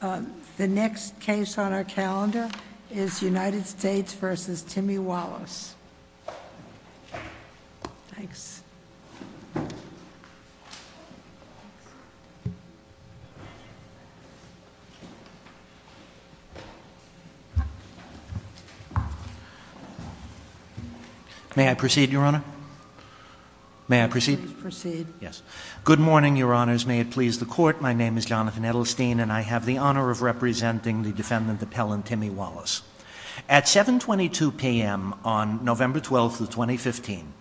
The next case on our calendar is United States v. Timmy Wallace. May I proceed, Your Honor? May I proceed? Please proceed. Yes. Good morning, Your Honors. May it please the Court. My name is Jonathan Edelstein, and I have the honor of representing the defendant appellant, Timmy Wallace. At 7.22 p.m. on November 12, 2015,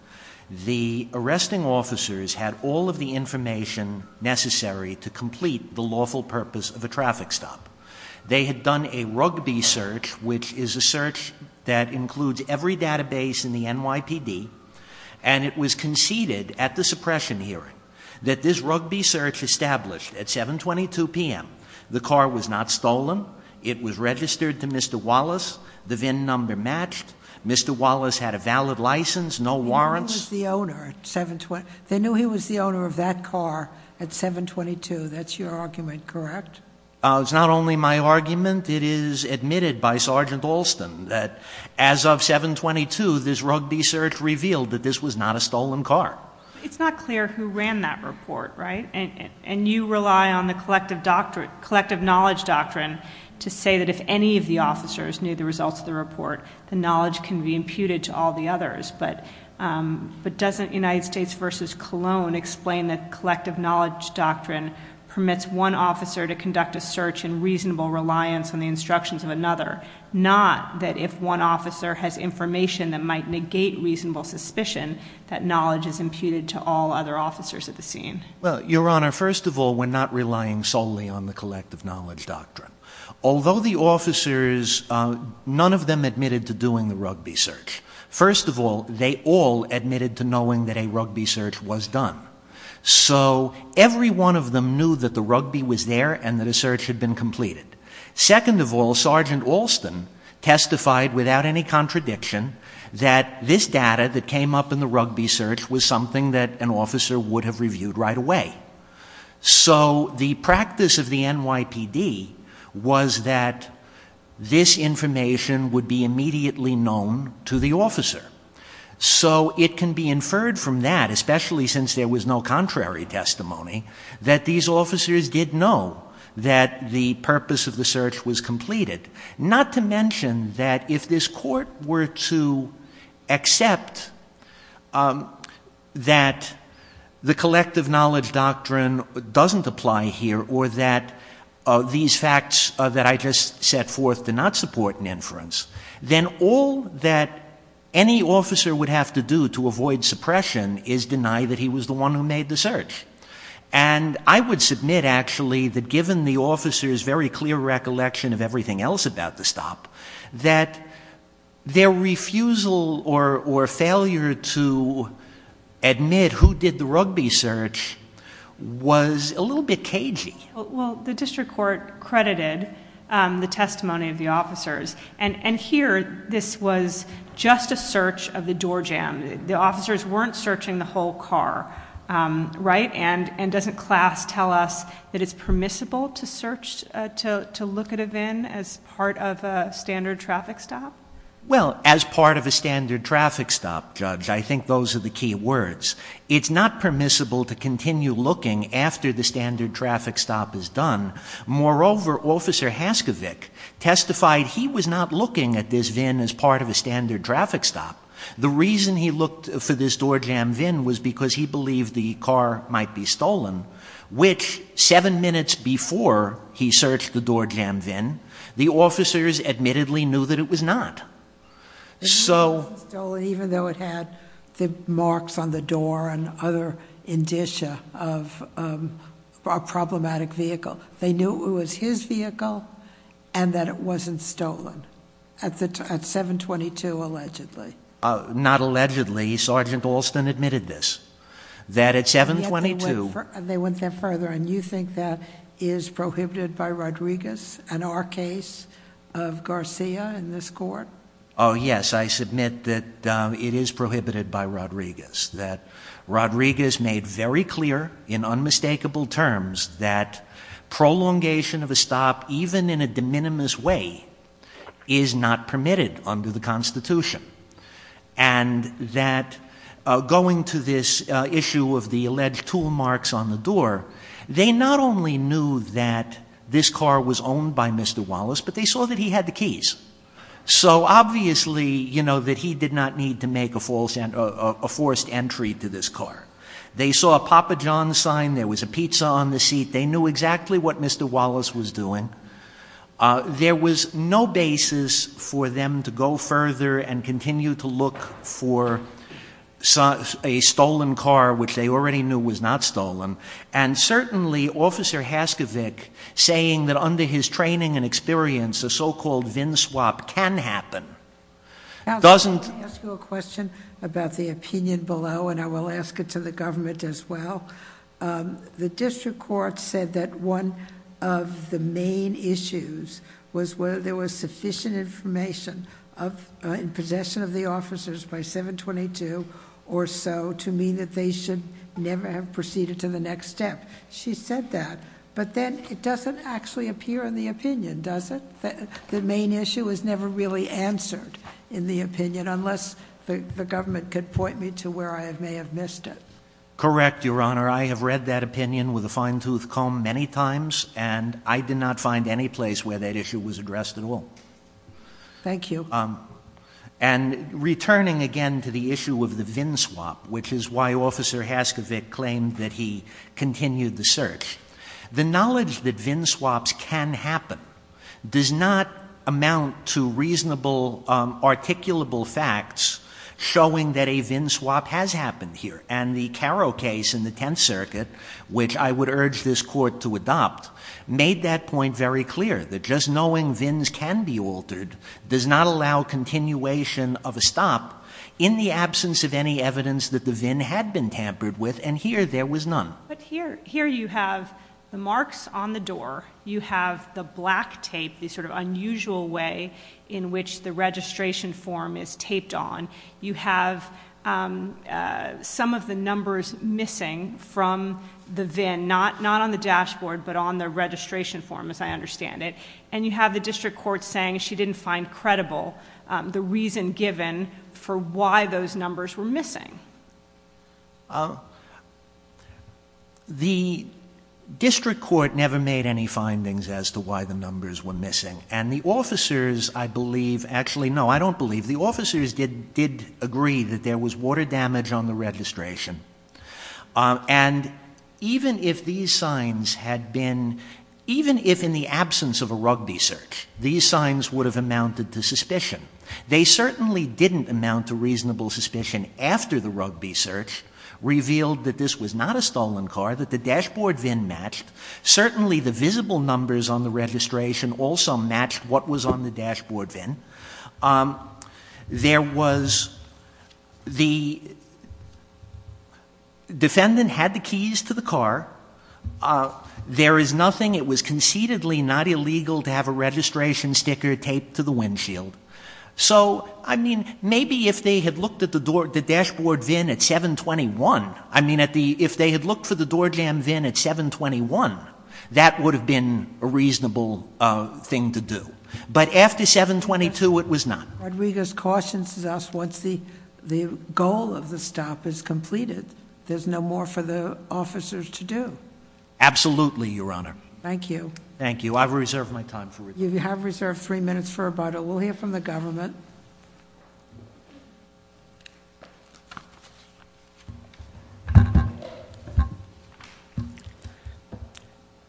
the arresting officers had all of the information necessary to complete the lawful purpose of a traffic stop. They had done a rugby search, which is a search that includes every database in the NYPD, and it was conceded at the suppression hearing that this rugby search established at 7.22 p.m. The car was not stolen. It was registered to Mr. Wallace. The VIN number matched. Mr. Wallace had a valid license, no warrants. They knew he was the owner of that car at 7.22. That's your argument, correct? It's not only my argument. It is admitted by Sergeant Alston that as of 7.22, this rugby search revealed that this was not a stolen car. It's not clear who ran that report, right? And you rely on the collective knowledge doctrine to say that if any of the officers knew the results of the report, the knowledge can be imputed to all the others. But doesn't United States v. Cologne explain that collective knowledge doctrine permits one officer to conduct a search in reasonable reliance on the instructions of another, not that if one officer has information that might negate reasonable suspicion, that knowledge is imputed to all other officers at the scene? Well, Your Honor, first of all, we're not relying solely on the collective knowledge doctrine. Although the officers, none of them admitted to doing the rugby search. First of all, they all admitted to knowing that a rugby search was done. So every one of them knew that the rugby was there and that a search had been completed. Second of all, Sergeant Alston testified without any contradiction that this data that came up in the rugby search was something that an officer would have reviewed right away. So the practice of the NYPD was that this information would be immediately known to the officer. So it can be inferred from that, especially since there was no contrary testimony, that these officers did know that the purpose of the search was completed, not to mention that if this Court were to accept that the collective knowledge doctrine doesn't apply here or that these facts that I just set forth do not support an inference, then all that any officer would have to do to avoid suppression is deny that he was the one who made the search. And I would submit, actually, that given the officers' very clear recollection of everything else about the stop, that their refusal or failure to admit who did the rugby search was a little bit cagey. Well, the District Court credited the testimony of the officers. And here this was just a search of the door jam. The officers weren't searching the whole car, right? And doesn't class tell us that it's permissible to search, to look at a VIN as part of a standard traffic stop? Well, as part of a standard traffic stop, Judge, I think those are the key words. It's not permissible to continue looking after the standard traffic stop is done. Moreover, Officer Haskovic testified he was not looking at this VIN as part of a standard traffic stop. The reason he looked for this door jam VIN was because he believed the car might be stolen, which seven minutes before he searched the door jam VIN, the officers admittedly knew that it was not. So- It wasn't stolen even though it had the marks on the door and other indicia of a problematic vehicle. They knew it was his vehicle and that it wasn't stolen at 722 allegedly. Not allegedly. Sergeant Alston admitted this, that at 722- Oh, yes, I submit that it is prohibited by Rodriguez, that Rodriguez made very clear in unmistakable terms that prolongation of a stop, even in a de minimis way, is not permitted under the Constitution. And that going to this issue of the alleged tool marks on the door, they not only knew that this car was owned by Mr. Wallace, but they saw that he had the keys. So obviously, you know, that he did not need to make a forced entry to this car. They saw a Papa John's sign. There was a pizza on the seat. They knew exactly what Mr. Wallace was doing. There was no basis for them to go further and continue to look for a stolen car, which they already knew was not stolen. And certainly, Officer Haskovic, saying that under his training and experience, a so-called VIN swap can happen, doesn't- I'll ask you a question about the opinion below, and I will ask it to the government as well. The district court said that one of the main issues was whether there was sufficient information in possession of the officers by 722 or so to mean that they should never have proceeded to the next step. She said that, but then it doesn't actually appear in the opinion, does it? The main issue is never really answered in the opinion, unless the government could point me to where I may have missed it. Correct, Your Honor. I have read that opinion with a fine-tooth comb many times, and I did not find any place where that issue was addressed at all. Thank you. And returning again to the issue of the VIN swap, which is why Officer Haskovic claimed that he continued the search, the knowledge that VIN swaps can happen does not amount to reasonable, articulable facts showing that a VIN swap has happened here. And the Caro case in the Tenth Circuit, which I would urge this Court to adopt, made that point very clear, that just knowing VINs can be altered does not allow continuation of a stop in the absence of any evidence that the VIN had been tampered with, and here there was none. But here you have the marks on the door. You have the black tape, the sort of unusual way in which the registration form is taped on. You have some of the numbers missing from the VIN, not on the dashboard, but on the registration form, as I understand it. And you have the district court saying she didn't find credible the reason given for why those numbers were missing. The district court never made any findings as to why the numbers were missing. And the officers, I believe, actually no, I don't believe, the officers did agree that there was water damage on the registration. And even if these signs had been, even if in the absence of a rugby search, these signs would have amounted to suspicion, they certainly didn't amount to reasonable suspicion after the rugby search revealed that this was not a stolen car, that the dashboard VIN matched, certainly the visible numbers on the registration also matched what was on the dashboard VIN. There was, the defendant had the keys to the car. There is nothing, it was concededly not illegal to have a registration sticker taped to the windshield. So, I mean, maybe if they had looked at the dashboard VIN at 721, I mean, if they had looked for the door jam VIN at 721, that would have been a reasonable thing to do. But after 722, it was not. Rodriguez cautions us once the goal of the stop is completed, there's no more for the officers to do. Absolutely, Your Honor. Thank you. Thank you. I've reserved my time for- You have reserved three minutes for about a, we'll hear from the government.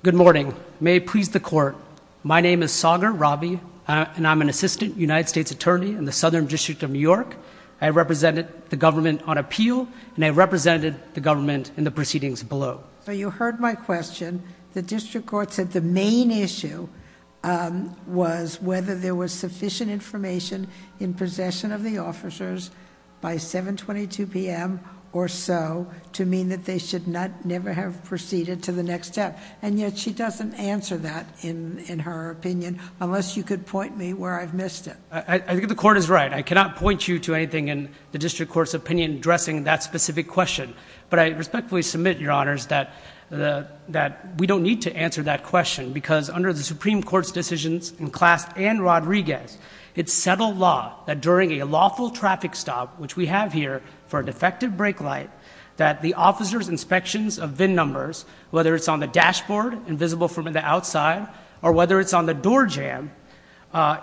Good morning. May it please the court. My name is Sagar Ravi, and I'm an Assistant United States Attorney in the Southern District of New York. I represented the government on appeal, and I represented the government in the proceedings below. So, you heard my question. The district court said the main issue was whether there was sufficient information in possession of the officers by 722 p.m. or so to mean that they should never have proceeded to the next step. And yet, she doesn't answer that in her opinion, unless you could point me where I've missed it. I think the court is right. I cannot point you to anything in the district court's opinion addressing that specific question. But I respectfully submit, Your Honors, that we don't need to answer that question, because under the Supreme Court's decisions in Clast and Rodriguez, it's settled law that during a lawful traffic stop, which we have here for a defective brake light, that the officers' inspections of VIN numbers, whether it's on the dashboard, invisible from the outside, or whether it's on the door jamb,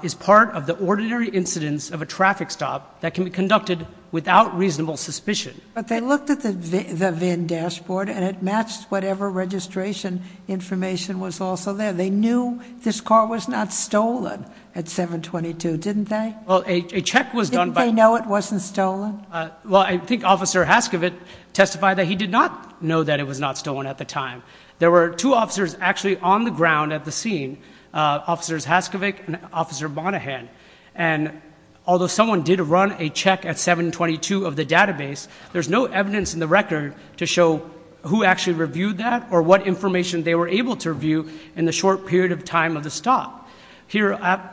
is part of the ordinary incidence of a traffic stop that can be conducted without reasonable suspicion. But they looked at the VIN dashboard, and it matched whatever registration information was also there. They knew this car was not stolen at 722, didn't they? Well, a check was done by— Didn't they know it wasn't stolen? Well, I think Officer Haskovic testified that he did not know that it was not stolen at the time. There were two officers actually on the ground at the scene, Officers Haskovic and Officer Bonahan. And although someone did run a check at 722 of the database, there's no evidence in the record to show who actually reviewed that or what information they were able to review in the short period of time of the stop. But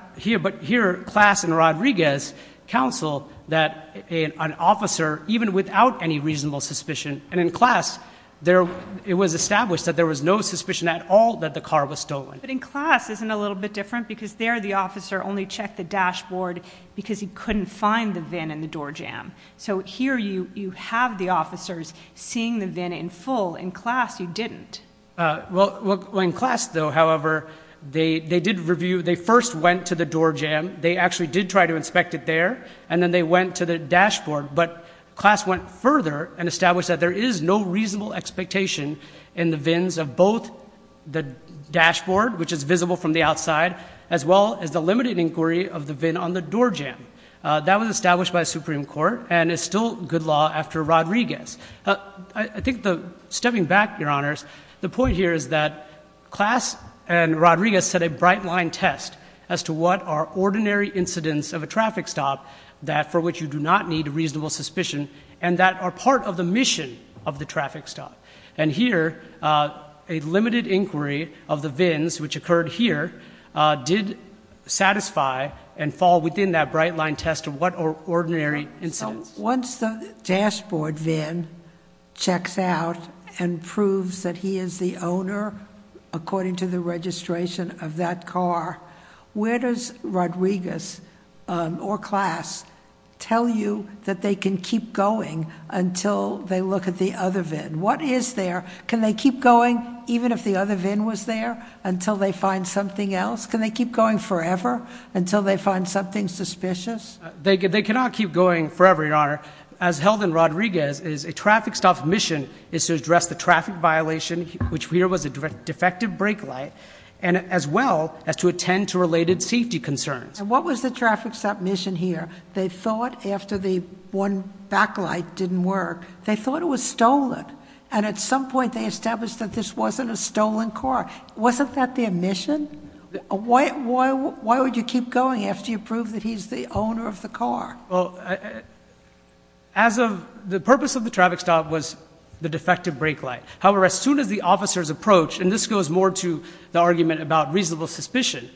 here, Clast and Rodriguez counsel that an officer, even without any reasonable suspicion— and in Clast, it was established that there was no suspicion at all that the car was stolen. But in Clast, isn't it a little bit different? Because there, the officer only checked the dashboard because he couldn't find the VIN in the door jamb. So here, you have the officers seeing the VIN in full. In Clast, you didn't. Well, in Clast, though, however, they did review—they first went to the door jamb. They actually did try to inspect it there, and then they went to the dashboard. But Clast went further and established that there is no reasonable expectation in the VINs of both the dashboard, which is visible from the outside, as well as the limited inquiry of the VIN on the door jamb. That was established by Supreme Court and is still good law after Rodriguez. I think, stepping back, Your Honors, the point here is that Clast and Rodriguez set a bright-line test as to what are ordinary incidents of a traffic stop for which you do not need a reasonable suspicion and that are part of the mission of the traffic stop. And here, a limited inquiry of the VINs, which occurred here, did satisfy and fall within that bright-line test of what are ordinary incidents. Once the dashboard VIN checks out and proves that he is the owner, according to the registration of that car, where does Rodriguez or Clast tell you that they can keep going until they look at the other VIN? What is there? Can they keep going even if the other VIN was there until they find something else? Can they keep going forever until they find something suspicious? They cannot keep going forever, Your Honor. As held in Rodriguez, a traffic stop mission is to address the traffic violation, which here was a defective brake light, as well as to attend to related safety concerns. And what was the traffic stop mission here? They thought after the one backlight didn't work, they thought it was stolen, and at some point they established that this wasn't a stolen car. Wasn't that their mission? Why would you keep going after you prove that he's the owner of the car? Well, the purpose of the traffic stop was the defective brake light. However, as soon as the officers approached, and this goes more to the argument about reasonable suspicion,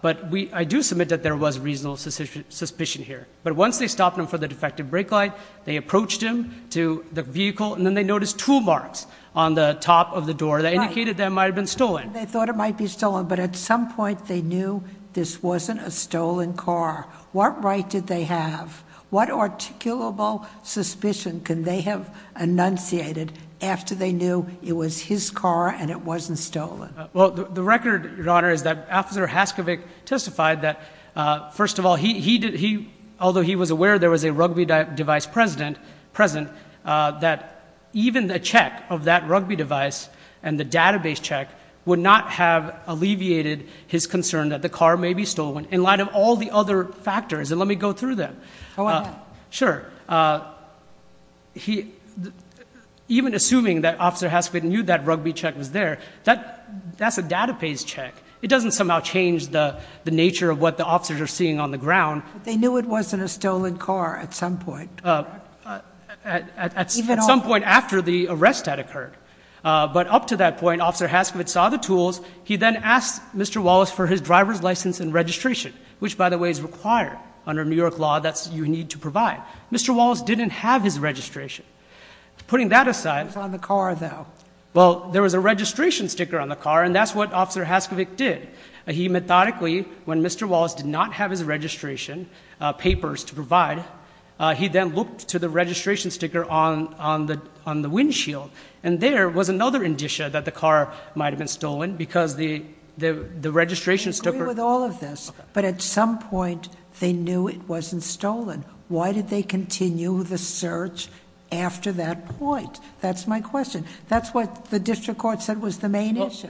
but I do submit that there was reasonable suspicion here. But once they stopped him for the defective brake light, they approached him to the vehicle, and then they noticed tool marks on the top of the door that indicated that it might have been stolen. They thought it might be stolen, but at some point they knew this wasn't a stolen car. What right did they have? What articulable suspicion can they have enunciated after they knew it was his car and it wasn't stolen? Well, the record, Your Honor, is that Officer Haskovic testified that, first of all, although he was aware there was a rugby device present, that even a check of that rugby device and the database check would not have alleviated his concern that the car may be stolen in light of all the other factors. And let me go through them. Sure. Even assuming that Officer Haskovic knew that rugby check was there, that's a database check. It doesn't somehow change the nature of what the officers are seeing on the ground. But they knew it wasn't a stolen car at some point. At some point after the arrest had occurred. But up to that point, Officer Haskovic saw the tools. He then asked Mr. Wallace for his driver's license and registration, which, by the way, is required under New York law. That's what you need to provide. Mr. Wallace didn't have his registration. Putting that aside... It was on the car, though. Well, there was a registration sticker on the car, and that's what Officer Haskovic did. He methodically, when Mr. Wallace did not have his registration papers to provide, he then looked to the registration sticker on the windshield. And there was another indicia that the car might have been stolen because the registration sticker... I agree with all of this, but at some point they knew it wasn't stolen. Why did they continue the search after that point? That's my question. That's what the district court said was the main issue.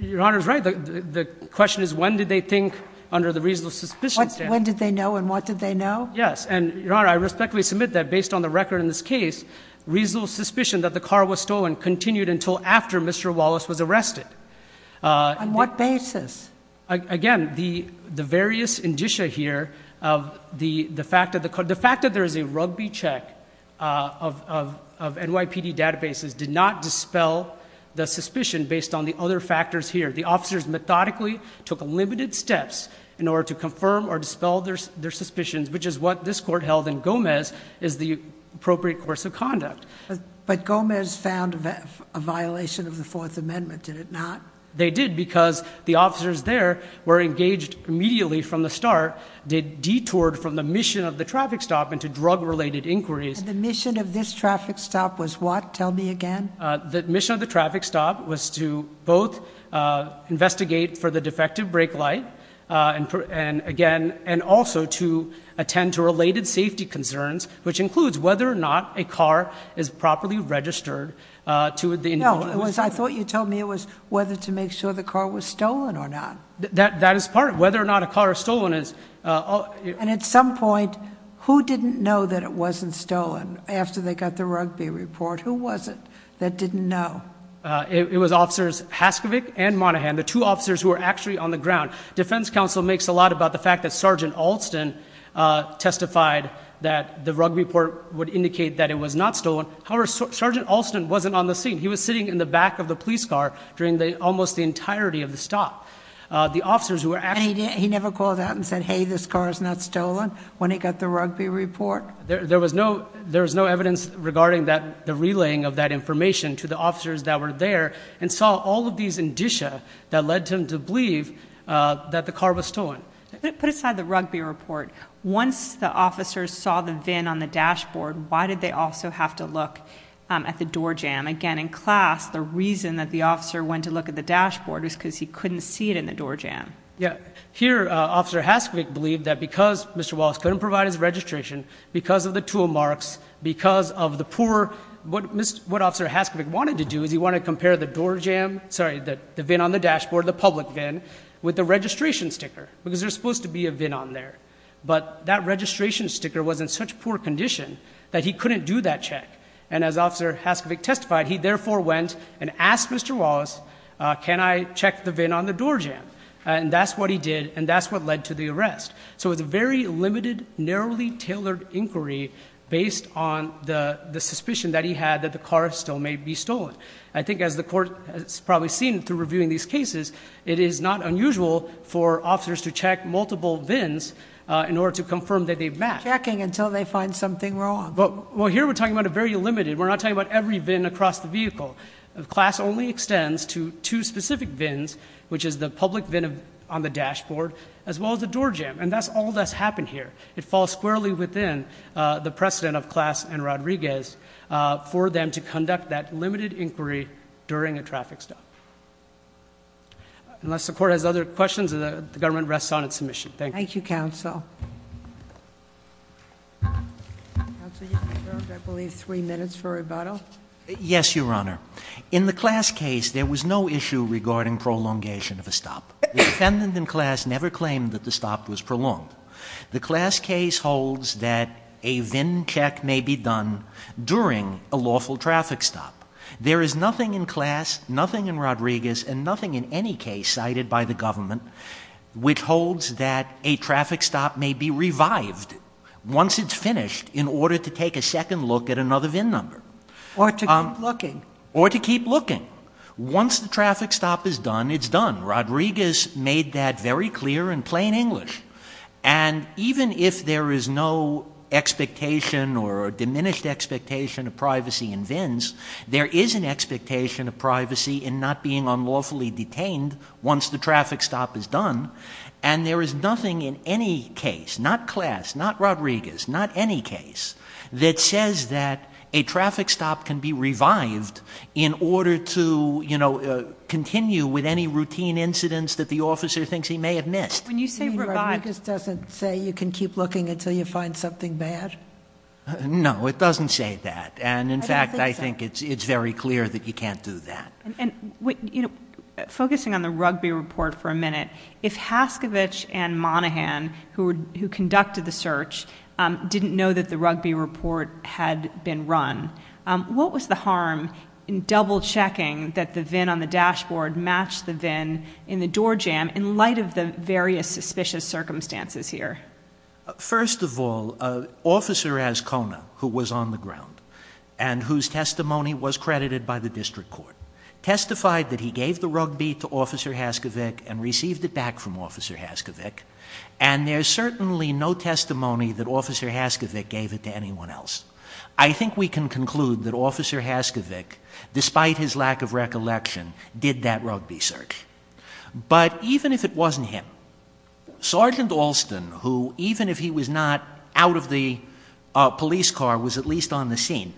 Your Honor is right. The question is when did they think under the reasonable suspicion standard. When did they know and what did they know? Yes. And, Your Honor, I respectfully submit that based on the record in this case, reasonable suspicion that the car was stolen continued until after Mr. Wallace was arrested. On what basis? Again, the various indicia here of the fact that there is a rugby check of NYPD databases did not dispel the suspicion based on the other factors here. The officers methodically took limited steps in order to confirm or dispel their suspicions, which is what this court held in Gomez is the appropriate course of conduct. But Gomez found a violation of the Fourth Amendment, did it not? They did because the officers there were engaged immediately from the start. They detoured from the mission of the traffic stop into drug-related inquiries. The mission of this traffic stop was what? Tell me again. The mission of the traffic stop was to both investigate for the defective brake light and also to attend to related safety concerns, which includes whether or not a car is properly registered to the individual. No, I thought you told me it was whether to make sure the car was stolen or not. That is part of it. Whether or not a car is stolen is. And at some point, who didn't know that it wasn't stolen after they got the rugby report? Who was it that didn't know? It was officers Haskovic and Monaghan, the two officers who were actually on the ground. Defense counsel makes a lot about the fact that Sergeant Alston testified that the rugby report would indicate that it was not stolen. However, Sergeant Alston wasn't on the scene. He was sitting in the back of the police car during almost the entirety of the stop. And he never called out and said, hey, this car is not stolen when he got the rugby report? There was no evidence regarding the relaying of that information to the officers that were there and saw all of these indicia that led him to believe that the car was stolen. Put aside the rugby report. Once the officers saw the VIN on the dashboard, why did they also have to look at the door jamb? Again, in class, the reason that the officer went to look at the dashboard was because he couldn't see it in the door jamb. Here, Officer Haskovic believed that because Mr. Wallace couldn't provide his registration, because of the tool marks, because of the poor, what Officer Haskovic wanted to do is he wanted to compare the door jamb, sorry, the VIN on the dashboard, the public VIN, with the registration sticker because there's supposed to be a VIN on there. But that registration sticker was in such poor condition that he couldn't do that check. And as Officer Haskovic testified, he therefore went and asked Mr. Wallace, can I check the VIN on the door jamb? And that's what he did, and that's what led to the arrest. So it was a very limited, narrowly tailored inquiry based on the suspicion that he had that the car still may be stolen. I think as the Court has probably seen through reviewing these cases, it is not unusual for officers to check multiple VINs in order to confirm that they've matched. Checking until they find something wrong. Well, here we're talking about a very limited, we're not talking about every VIN across the vehicle. CLAS only extends to two specific VINs, which is the public VIN on the dashboard, as well as the door jamb. And that's all that's happened here. It falls squarely within the precedent of CLAS and Rodriguez for them to conduct that limited inquiry during a traffic stop. Unless the Court has other questions, the government rests on its submission. Thank you. Thank you, Counsel. Counsel, you have, I believe, three minutes for rebuttal. Yes, Your Honor. In the CLAS case, there was no issue regarding prolongation of a stop. The defendant in CLAS never claimed that the stop was prolonged. The CLAS case holds that a VIN check may be done during a lawful traffic stop. There is nothing in CLAS, nothing in Rodriguez, and nothing in any case cited by the government which holds that a traffic stop may be revived once it's finished in order to take a second look at another VIN number. Or to keep looking. Or to keep looking. Once the traffic stop is done, it's done. Rodriguez made that very clear in plain English. And even if there is no expectation or diminished expectation of privacy in VINs, there is an expectation of privacy in not being unlawfully detained once the traffic stop is done. And there is nothing in any case, not CLAS, not Rodriguez, not any case, that says that a traffic stop can be revived in order to, you know, continue with any routine incidents that the officer thinks he may have missed. When you say revived. You mean Rodriguez doesn't say you can keep looking until you find something bad? No, it doesn't say that. And, in fact, I think it's very clear that you can't do that. And, you know, focusing on the rugby report for a minute, if Haskovich and Monahan, who conducted the search, didn't know that the rugby report had been run, what was the harm in double checking that the VIN on the dashboard matched the VIN in the door jam in light of the various suspicious circumstances here? First of all, Officer Azcona, who was on the ground, and whose testimony was credited by the district court, testified that he gave the rugby to Officer Haskovich and received it back from Officer Haskovich, and there's certainly no testimony that Officer Haskovich gave it to anyone else. I think we can conclude that Officer Haskovich, despite his lack of recollection, did that rugby search. But even if it wasn't him, Sergeant Alston, who, even if he was not out of the police car, was at least on the scene,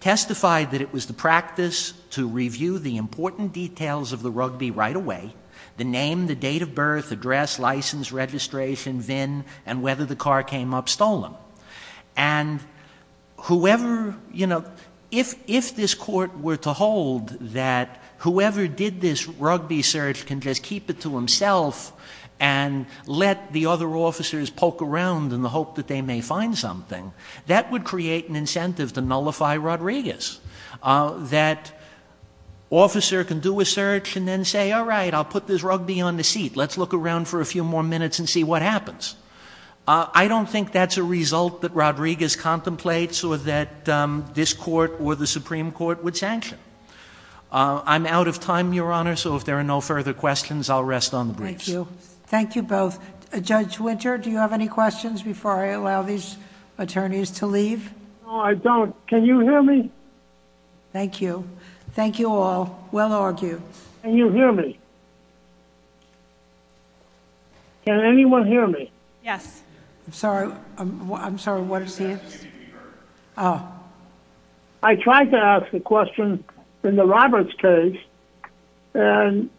testified that it was the practice to review the important details of the rugby right away, the name, the date of birth, address, license, registration, VIN, and whether the car came up stolen. And whoever, you know, if this court were to hold that whoever did this rugby search can just keep it to himself and let the other officers poke around in the hope that they may find something, that would create an incentive to nullify Rodriguez, that an officer can do a search and then say, all right, I'll put this rugby on the seat. Let's look around for a few more minutes and see what happens. I don't think that's a result that Rodriguez contemplates or that this court or the Supreme Court would sanction. I'm out of time, Your Honor, so if there are no further questions, I'll rest on the briefs. Thank you. Thank you both. Judge Winter, do you have any questions before I allow these attorneys to leave? No, I don't. Can you hear me? Thank you. Thank you all. Well argued. Can you hear me? Can anyone hear me? Yes. I'm sorry. I'm sorry. What is the answer? I'm asking if you can hear me. I'm in the Roberts case and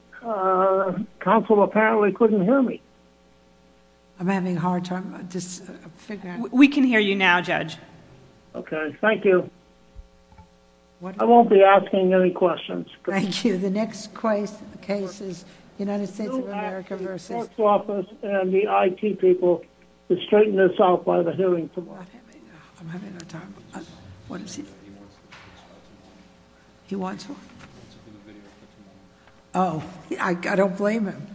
counsel apparently couldn't hear me. I'm having a hard time just figuring out. We can hear you now, Judge. Okay. Thank you. I won't be asking any questions. Thank you. The next case is United States of America versus... He wants one? Oh, I don't blame him.